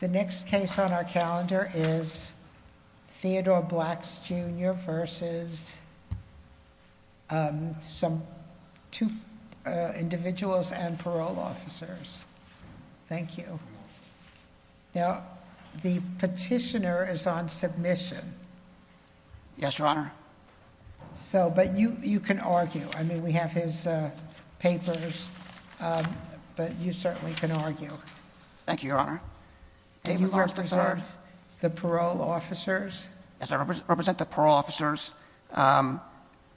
The next case on our calendar is Theodore Blacks Jr. v. two individuals and parole officers. Thank you. Now, the petitioner is on submission. Yes, Your Honor. So, but you can argue. I mean, we have his papers, but you certainly can argue. Thank you, Your Honor. Do you represent the parole officers? Yes, I represent the parole officers.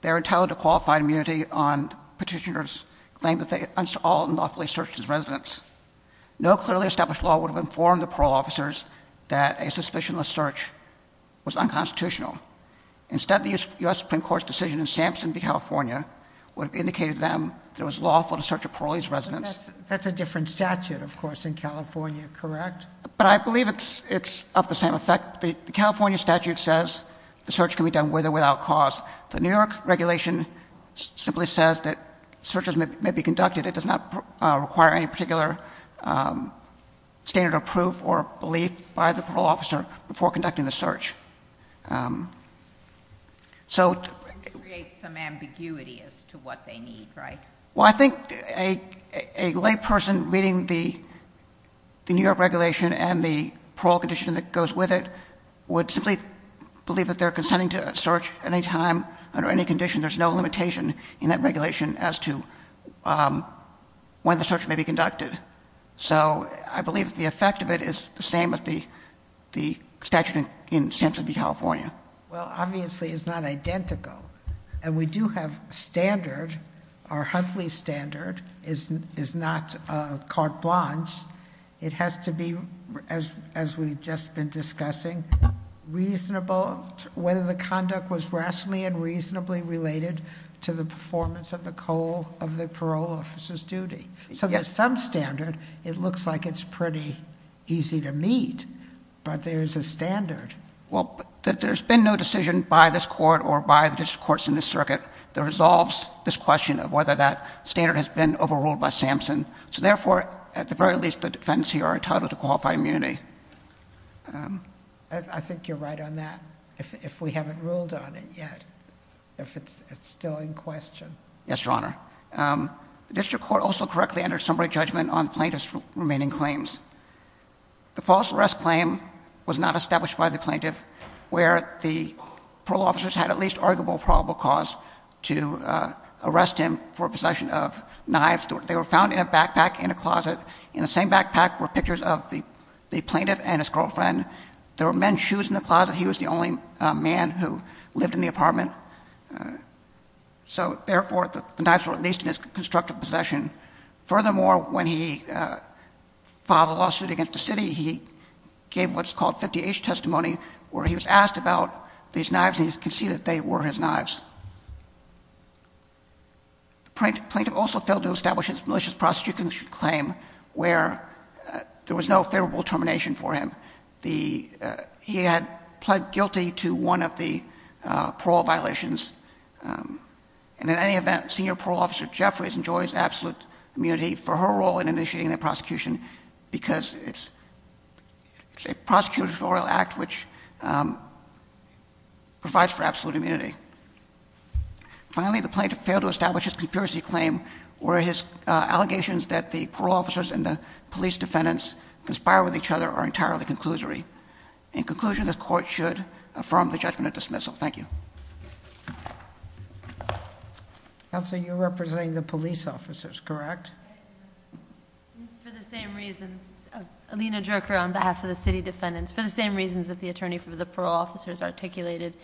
They're entitled to qualified immunity on petitioner's claim that they unlawfully searched his residence. No clearly established law would have informed the parole officers that a suspicionless search was unconstitutional. Instead, the U.S. Supreme Court's decision in Sampson v. California would have indicated to them that it was lawful to search a parolee's residence. That's a different statute, of course, in California, correct? But I believe it's of the same effect. The California statute says the search can be done with or without cause. The New York regulation simply says that searches may be conducted. It does not require any particular standard of proof or belief by the parole officer before conducting the search. So... It creates some ambiguity as to what they need, right? Well, I think a layperson reading the New York regulation and the parole condition that goes with it would simply believe that they're consenting to a search at any time under any condition. There's no limitation in that regulation as to when the search may be conducted. So I believe the effect of it is the same as the statute in Sampson v. California. Well, obviously it's not identical. And we do have a standard. Our Huntley standard is not carte blanche. It has to be, as we've just been discussing, whether the conduct was rationally and reasonably related to the performance of the parole officer's duty. So there's some standard. It looks like it's pretty easy to meet. But there's a standard. Well, there's been no decision by this court or by the district courts in this circuit that resolves this question of whether that standard has been overruled by Sampson. So therefore, at the very least, the defendants here are entitled to qualified immunity. I think you're right on that, if we haven't ruled on it yet, if it's still in question. Yes, Your Honor. The district court also correctly entered summary judgment on plaintiff's remaining claims. The false arrest claim was not established by the plaintiff, where the parole officers had at least arguable probable cause to arrest him for possession of knives. They were found in a backpack in a closet. In the same backpack were pictures of the plaintiff and his girlfriend. There were men's shoes in the closet. He was the only man who lived in the apartment. So therefore, the knives were at least in his constructive possession. Furthermore, when he filed a lawsuit against the city, he gave what's called 50H testimony, where he was asked about these knives, and he conceded that they were his knives. The plaintiff also failed to establish his malicious prosecution claim, where there was no favorable termination for him. He had pled guilty to one of the parole violations. And in any event, Senior Parole Officer Jeffries enjoys absolute immunity for her role in initiating the prosecution, because it's a prosecutorial act which provides for absolute immunity. Finally, the plaintiff failed to establish his conspiracy claim, where his allegations that the parole officers and the police defendants conspire with each other are entirely conclusory. In conclusion, the court should affirm the judgment of dismissal. Thank you. Counsel, you're representing the police officers, correct? For the same reasons, Alina Jerker on behalf of the city defendants, for the same reasons that the attorney for the parole officers articulated,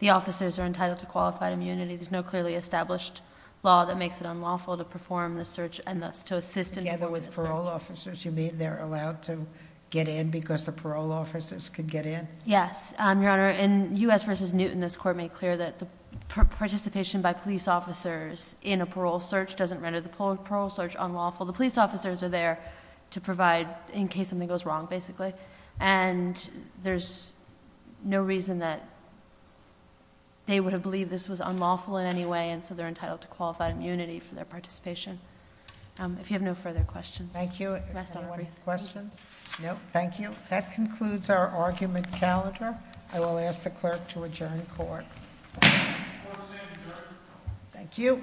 the officers are entitled to qualified immunity. There's no clearly established law that makes it unlawful to perform the search, and thus to assist in performing the search. Parole officers, you mean they're allowed to get in because the parole officers can get in? Yes, Your Honor. In U.S. v. Newton, this court made clear that the participation by police officers in a parole search doesn't render the parole search unlawful. The police officers are there to provide in case something goes wrong, basically. And there's no reason that they would have believed this was unlawful in any way, and so they're entitled to qualified immunity for their participation. If you have no further questions- Thank you. Any questions? No, thank you. That concludes our argument calendar. I will ask the clerk to adjourn court. Court is adjourned. Thank you.